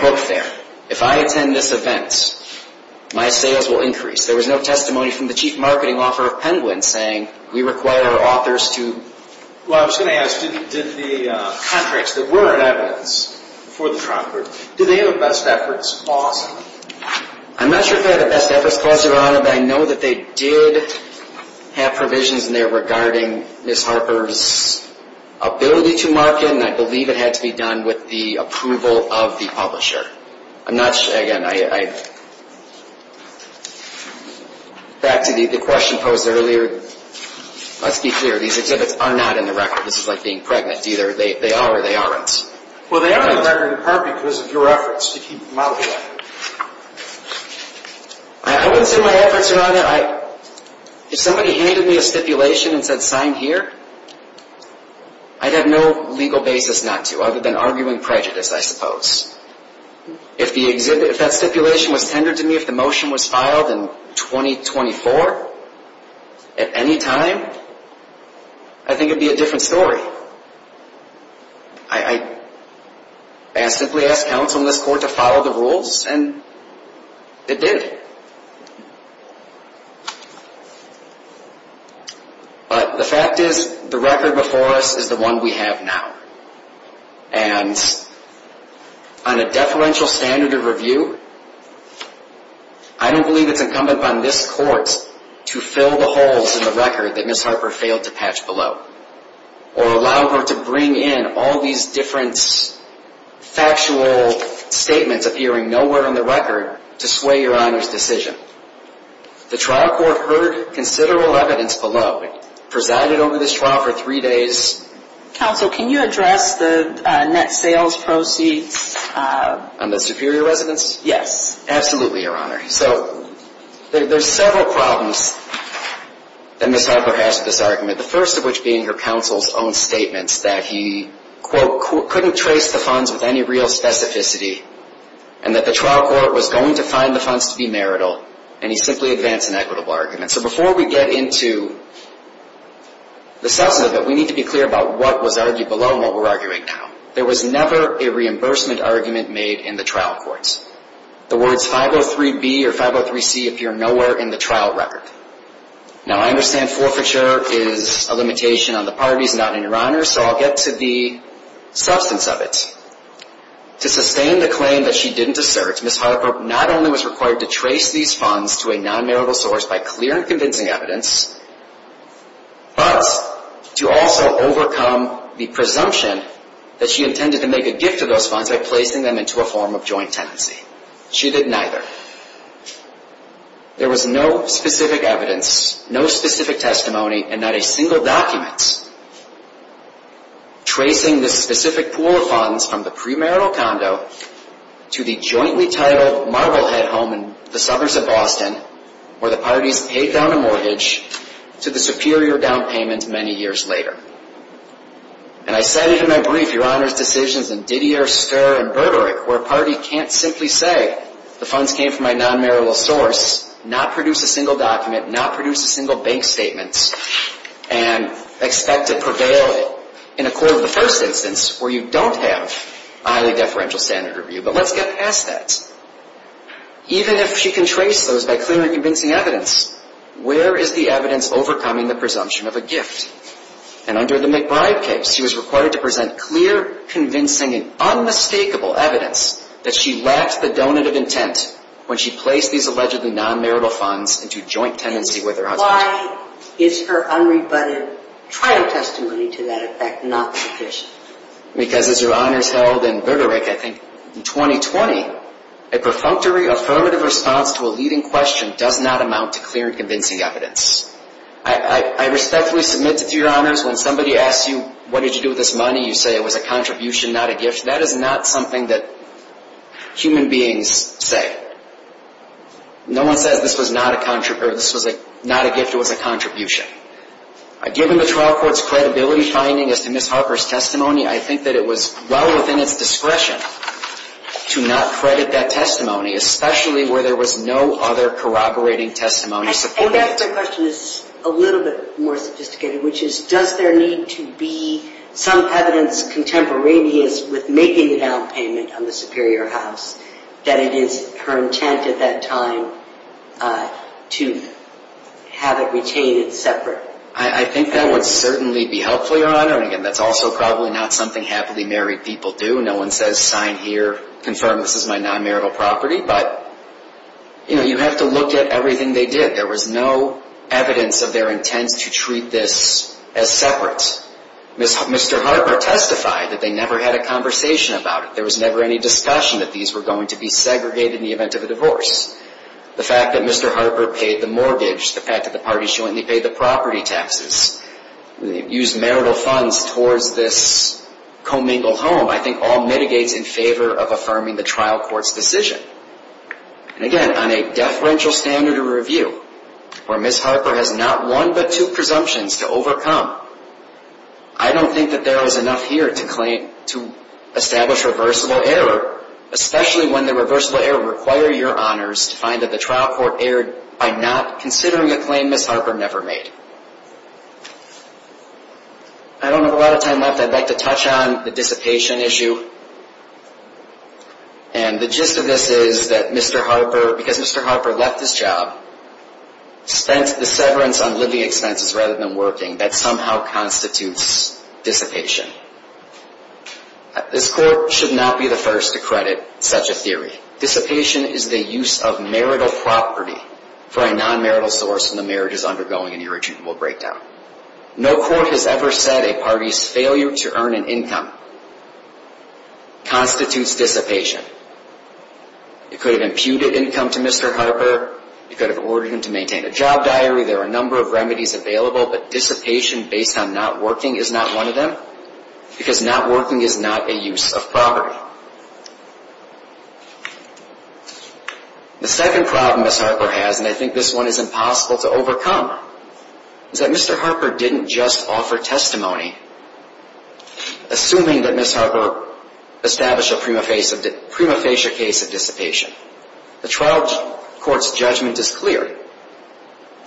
book fair, if I attend this event, my sales will increase. There was no testimony from the Chief Marketing Officer of Penguin saying, we require authors to... Well, I was going to ask, did the contracts that were in evidence for the Trumper, did they have a best efforts clause? I'm not sure if they had a best efforts clause, Your Honor, but I know that they did have provisions in there regarding Miss Harper's ability to market, and I believe it had to be done with the approval of the publisher. I'm not sure, again, I... Back to the question posed earlier. Let's be clear, these exhibits are not in the record. This is like being pregnant. Either they are or they aren't. Well, they are in the record in part because of your efforts to keep them out of the record. I wouldn't say my efforts are on that. If somebody handed me a stipulation and said sign here, I'd have no legal basis not to other than arguing prejudice, I suppose. If that stipulation was tendered to me, if the motion was filed in 2024, at any time, I think it would be a different story. I basically asked counsel in this court to follow the rules, and it did. But the fact is, the record before us is the one we have now. And on a deferential standard of review, I don't believe it's incumbent upon this court to fill the holes in the record that Miss Harper failed to patch below or allow her to bring in all these different factual statements appearing nowhere on the record to sway Your Honor's decision. The trial court heard considerable evidence below and presided over this trial for three days. Counsel, can you address the net sales proceeds? On the superior residence? Yes. Absolutely, Your Honor. So there's several problems that Miss Harper has with this argument, the first of which being her counsel's own statements that he, quote, couldn't trace the funds with any real specificity and that the trial court was going to find the funds to be marital, and he simply advanced an equitable argument. So before we get into the substance of it, we need to be clear about what was argued below and what we're arguing now. There was never a reimbursement argument made in the trial courts. The words 503B or 503C appear nowhere in the trial record. Now, I understand forfeiture is a limitation on the parties, not in Your Honor, so I'll get to the substance of it. To sustain the claim that she didn't assert, Miss Harper not only was required to trace these funds to a non-marital source by clear and convincing evidence, but to also overcome the presumption that she intended to make a gift to those funds by placing them into a form of joint tenancy. She did neither. There was no specific evidence, no specific testimony, and not a single document tracing this specific pool of funds from the premarital condo to the jointly titled Marblehead home in the summers of Boston where the parties paid down a mortgage to the superior down payment many years later. And I cited in my brief Your Honor's decisions in Didier, Starr, and Bergerich where a party can't simply say the funds came from a non-marital source, not produce a single document, not produce a single bank statement, and expect to prevail in a court of the first instance where you don't have a highly deferential standard of view. But let's get past that. Even if she can trace those by clear and convincing evidence, where is the evidence overcoming the presumption of a gift? And under the McBride case, she was required to present clear, convincing, and unmistakable evidence that she lacked the donative intent when she placed these allegedly non-marital funds into joint tenancy with her husband. Why is her unrebutted trial testimony to that effect not sufficient? Because as Your Honors held in Bergerich, I think, in 2020, a perfunctory affirmative response to a leading question does not amount to clear and convincing evidence. I respectfully submit to Your Honors when somebody asks you what did you do with this money, you say it was a contribution, not a gift. That is not something that human beings say. No one says this was not a gift, it was a contribution. Given the trial court's credibility finding as to Ms. Harper's testimony, I think that it was well within its discretion to not credit that testimony, especially where there was no other corroborating testimony supported. My question is a little bit more sophisticated, which is does there need to be some evidence contemporaneous with making the down payment on the Superior House that it is her intent at that time to have it retained separate? I think that would certainly be helpful, Your Honor. And again, that's also probably not something happily married people do. No one says sign here, confirm this is my non-marital property. But, you know, you have to look at everything they did. There was no evidence of their intent to treat this as separate. Mr. Harper testified that they never had a conversation about it. There was never any discussion that these were going to be segregated in the event of a divorce. The fact that Mr. Harper paid the mortgage, the fact that the parties jointly paid the property taxes, used marital funds towards this commingle home, I think all mitigates in favor of affirming the trial court's decision. And again, on a deferential standard of review, where Ms. Harper has not one but two presumptions to overcome, I don't think that there is enough here to establish reversible error, especially when the reversible error require your honors to find that the trial court erred by not considering a claim Ms. Harper never made. I don't have a lot of time left. I'd like to touch on the dissipation issue. And the gist of this is that Mr. Harper, because Mr. Harper left his job, spent the severance on living expenses rather than working. That somehow constitutes dissipation. This court should not be the first to credit such a theory. Dissipation is the use of marital property for a non-marital source when the marriage is undergoing an irretrievable breakdown. No court has ever said a party's failure to earn an income constitutes dissipation. You could have imputed income to Mr. Harper. You could have ordered him to maintain a job diary. There are a number of remedies available, but dissipation based on not working is not one of them because not working is not a use of property. The second problem Ms. Harper has, and I think this one is impossible to overcome, is that Mr. Harper didn't just offer testimony. Assuming that Ms. Harper established a prima facie case of dissipation, the trial court's judgment is clear.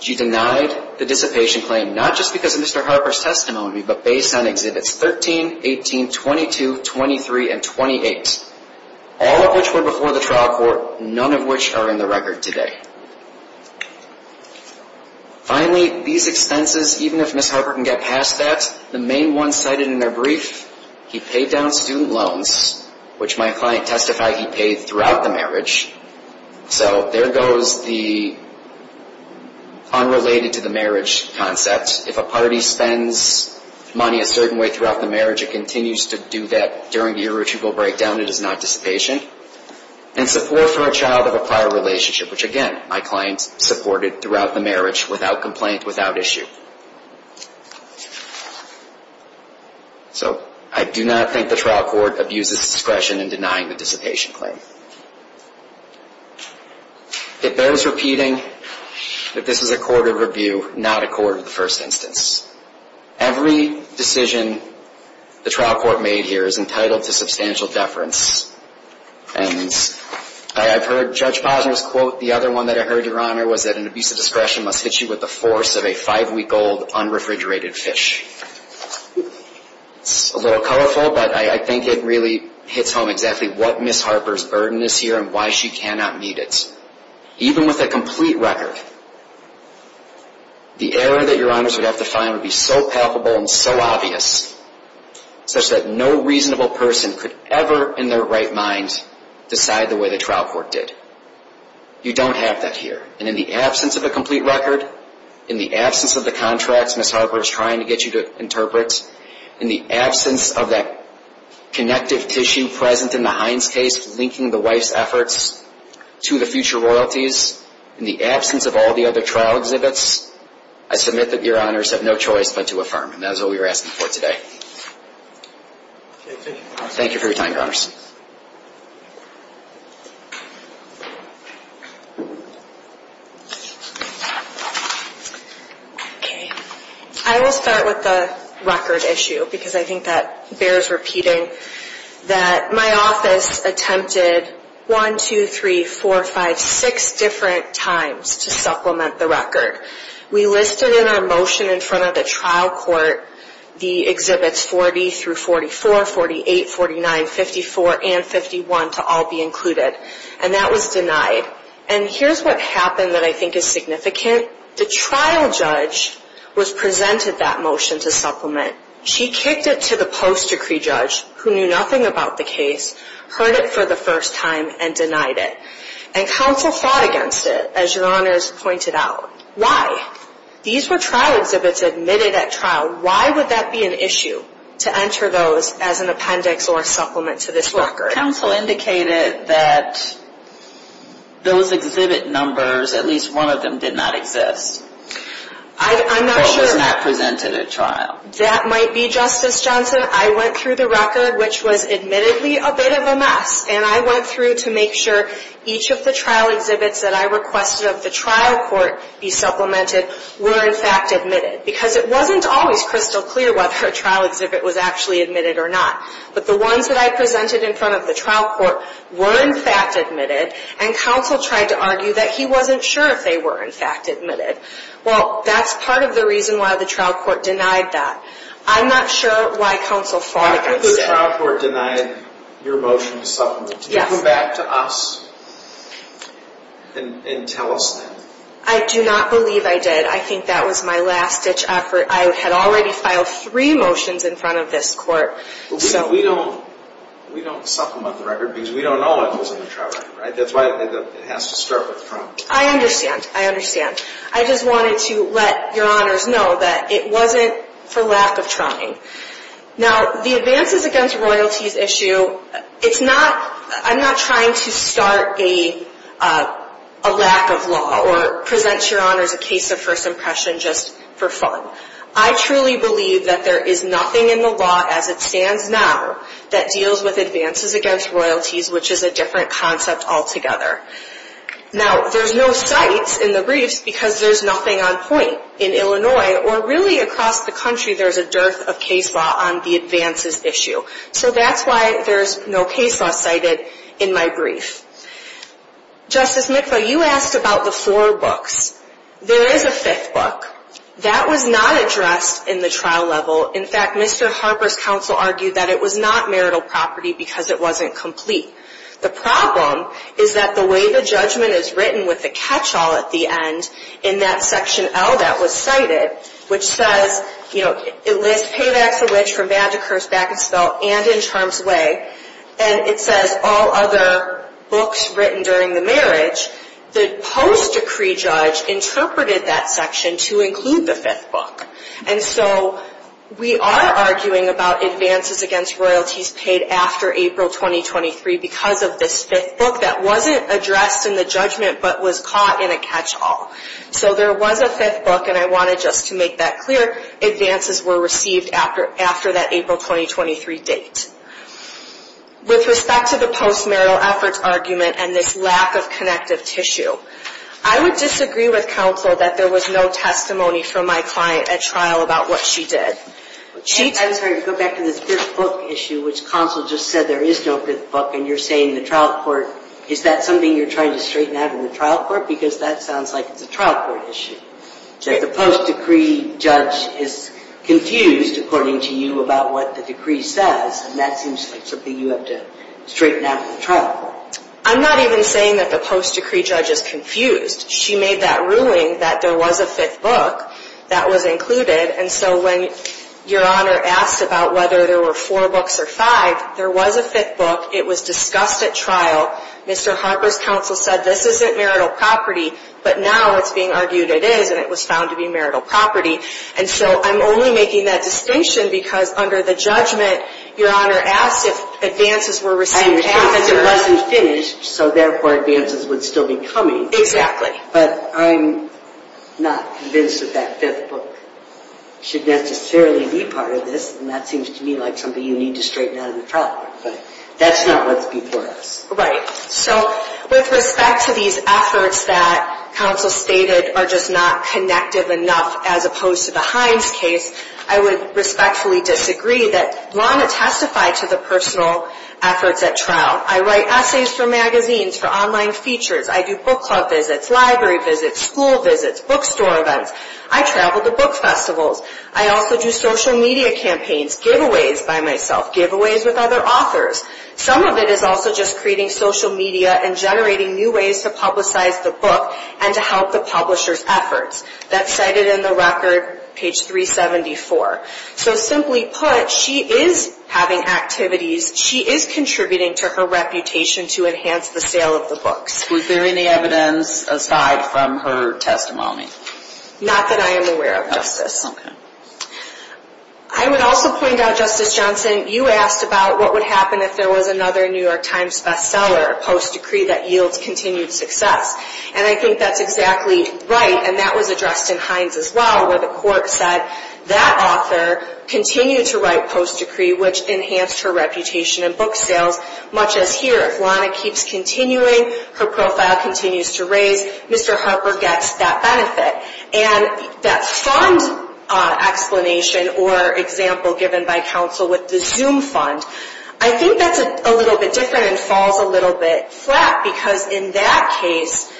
She denied the dissipation claim not just because of Mr. Harper's testimony, but based on Exhibits 13, 18, 22, 23, and 28, all of which were before the trial court, none of which are in the record today. Finally, these expenses, even if Ms. Harper can get past that, the main one cited in her brief, he paid down student loans, which my client testified he paid throughout the marriage. So there goes the unrelated to the marriage concept. If a party spends money a certain way throughout the marriage, it continues to do that during the irretrievable breakdown. It is not dissipation. And support for a child of a prior relationship, which again my client supported throughout the marriage without complaint, without issue. So I do not think the trial court abuses discretion in denying the dissipation claim. It bears repeating that this is a court of review, not a court of the first instance. Every decision the trial court made here is entitled to substantial deference. And I've heard Judge Posner's quote. The other one that I heard, Your Honor, was that an abuse of discretion must hit you with the force of a five-week-old unrefrigerated fish. It's a little colorful, but I think it really hits home exactly what Ms. Harper's burden is here and why she cannot meet it, even with a complete record. The error that Your Honors would have to find would be so palpable and so obvious, such that no reasonable person could ever in their right mind decide the way the trial court did. You don't have that here. And in the absence of a complete record, in the absence of the contracts Ms. Harper is trying to get you to interpret, in the absence of that connective tissue present in the Hines case linking the wife's efforts to the future royalties, in the absence of all the other trial exhibits, I submit that Your Honors have no choice but to affirm. And that is what we are asking for today. Thank you for your time, Your Honors. I will start with the record issue because I think that bears repeating. My office attempted 1, 2, 3, 4, 5, 6 different times to supplement the record. We listed in our motion in front of the trial court the exhibits 40 through 44, 48, 49, 54, and 51 to all be included. And that was denied. And here's what happened that I think is significant. The trial judge was presented that motion to supplement. She kicked it to the post-decree judge who knew nothing about the case, heard it for the first time, and denied it. And counsel fought against it, as Your Honors pointed out. Why? These were trial exhibits admitted at trial. Why would that be an issue to enter those as an appendix or a supplement to this record? Counsel indicated that those exhibit numbers, at least one of them, did not exist. I'm not sure. That might be, Justice Johnson. I went through the record, which was admittedly a bit of a mess. And I went through to make sure each of the trial exhibits that I requested of the trial court be supplemented were, in fact, admitted. Because it wasn't always crystal clear whether a trial exhibit was actually admitted or not. But the ones that I presented in front of the trial court were, in fact, admitted. And counsel tried to argue that he wasn't sure if they were, in fact, admitted. Well, that's part of the reason why the trial court denied that. I'm not sure why counsel fought against it. The trial court denied your motion to supplement. Yes. Can you come back to us and tell us then? I do not believe I did. I think that was my last-ditch effort. I had already filed three motions in front of this court. We don't supplement the record because we don't know what goes in the trial record, right? That's why it has to start with Trump. I understand. I understand. I just wanted to let your honors know that it wasn't for lack of trying. Now, the advances against royalties issue, it's not – I'm not trying to start a lack of law or present your honors a case of first impression just for fun. I truly believe that there is nothing in the law as it stands now that deals with advances against royalties, which is a different concept altogether. Now, there's no cites in the briefs because there's nothing on point in Illinois or really across the country there's a dearth of case law on the advances issue. So that's why there's no case law cited in my brief. Justice Mikva, you asked about the four books. There is a fifth book. That was not addressed in the trial level. In fact, Mr. Harper's counsel argued that it was not marital property because it wasn't complete. The problem is that the way the judgment is written with the catch-all at the end in that section L that was cited, which says, you know, it lists paybacks of which from bad to curse, back to spell, and in terms of way, and it says all other books written during the marriage, the post-decree judge interpreted that section to include the fifth book. And so we are arguing about advances against royalties paid after April 2023 because of this fifth book that wasn't addressed in the judgment but was caught in a catch-all. So there was a fifth book, and I wanted just to make that clear, advances were received after that April 2023 date. With respect to the post-marital efforts argument and this lack of connective tissue, I would disagree with counsel that there was no testimony from my client at trial about what she did. I was going to go back to this fifth book issue, which counsel just said there is no fifth book, and you're saying the trial court, is that something you're trying to straighten out in the trial court? Because that sounds like it's a trial court issue, that the post-decree judge is confused, according to you, about what the decree says, and that seems like something you have to straighten out in the trial court. I'm not even saying that the post-decree judge is confused. She made that ruling that there was a fifth book that was included, and so when Your Honor asked about whether there were four books or five, there was a fifth book. It was discussed at trial. Mr. Harper's counsel said this isn't marital property, but now it's being argued it is, and it was found to be marital property. And so I'm only making that distinction because under the judgment, Your Honor asked if advances were received after. It wasn't finished, so therefore advances would still be coming. But I'm not convinced that that fifth book should necessarily be part of this, and that seems to me like something you need to straighten out in the trial court, but that's not what's before us. Right. So with respect to these efforts that counsel stated are just not connective enough, as opposed to the Hines case, I would respectfully disagree that Lana testified to the personal efforts at trial. I write essays for magazines, for online features. I do book club visits, library visits, school visits, bookstore events. I travel to book festivals. I also do social media campaigns, giveaways by myself, giveaways with other authors. Some of it is also just creating social media and generating new ways to publicize the book and to help the publisher's efforts. That's cited in the record, page 374. So simply put, she is having activities. She is contributing to her reputation to enhance the sale of the books. Was there any evidence aside from her testimony? Not that I am aware of, Justice. Okay. I would also point out, Justice Johnson, you asked about what would happen if there was another New York Times bestseller post-decree that yields continued success, and I think that's exactly right, and that was addressed in Hines as well, where the court said that author continued to write post-decree, which enhanced her reputation in book sales, much as here. If Lana keeps continuing, her profile continues to raise, Mr. Harper gets that benefit. And that fund explanation or example given by counsel with the Zoom fund, I think that's a little bit different and falls a little bit flat, because in that case,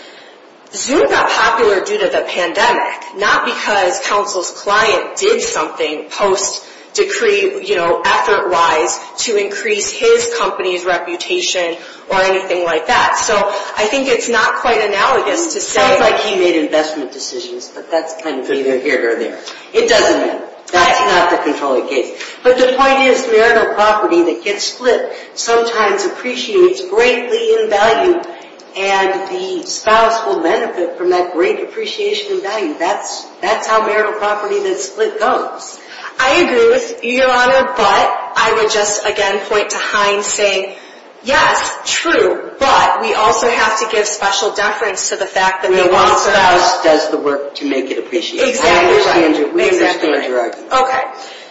Zoom got popular due to the pandemic, not because counsel's client did something post-decree effort-wise to increase his company's reputation or anything like that. So I think it's not quite analogous to say… Sounds like he made investment decisions, but that's kind of either here or there. It doesn't matter. That's not the controlling case. But the point is, marital property that gets split sometimes appreciates greatly in value, and the spouse will benefit from that great appreciation in value. That's how marital property that's split goes. I agree with you, Your Honor, but I would just, again, point to Hines saying, yes, true, but we also have to give special deference to the fact that… The Watson House does the work to make it appreciated. Exactly right. We understand your argument. Okay.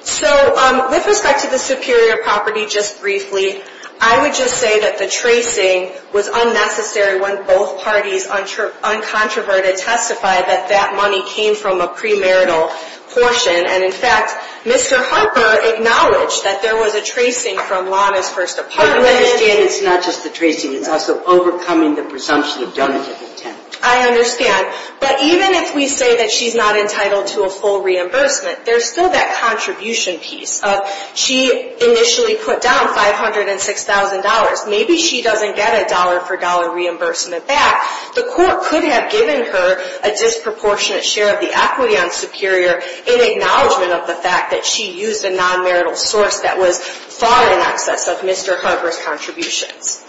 So with respect to the superior property, just briefly, I would just say that the tracing was unnecessary when both parties uncontroverted testified that that money came from a premarital portion. And, in fact, Mr. Harper acknowledged that there was a tracing from Lana's first apartment. I understand it's not just the tracing. It's also overcoming the presumption of donative intent. I understand. But even if we say that she's not entitled to a full reimbursement, there's still that contribution piece of she initially put down $506,000. Maybe she doesn't get a dollar-for-dollar reimbursement back. The court could have given her a disproportionate share of the equity on superior in acknowledgment of the fact that she used a non-marital source that was far in excess of Mr. Harper's contributions.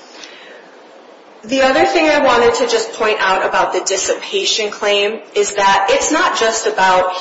The other thing I wanted to just point out about the dissipation claim is that it's not just about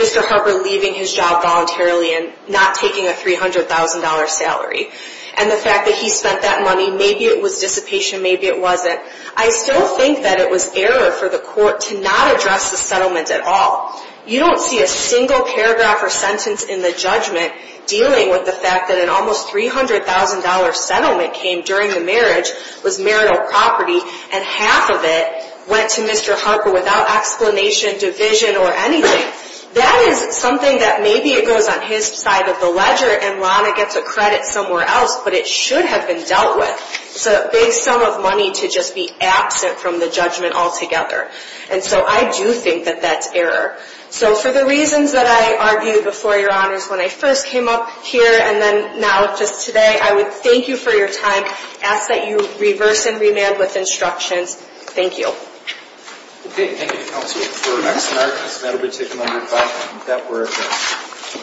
Mr. Harper leaving his job voluntarily and not taking a $300,000 salary and the fact that he spent that money. Maybe it was dissipation. Maybe it wasn't. I still think that it was error for the court to not address the settlement at all. You don't see a single paragraph or sentence in the judgment dealing with the fact that an almost $300,000 settlement came during the marriage, was marital property, and half of it went to Mr. Harper without explanation, division, or anything. That is something that maybe it goes on his side of the ledger and Lana gets a credit somewhere else, but it should have been dealt with. It's a big sum of money to just be absent from the judgment altogether. And so I do think that that's error. So for the reasons that I argued before, Your Honors, when I first came up here and then now just today, I would thank you for your time. I ask that you reverse and remand with instructions. Thank you. Okay, thank you, Counselor. Before we go to the next scenario, I just want everybody to take a moment of silence and get that word out.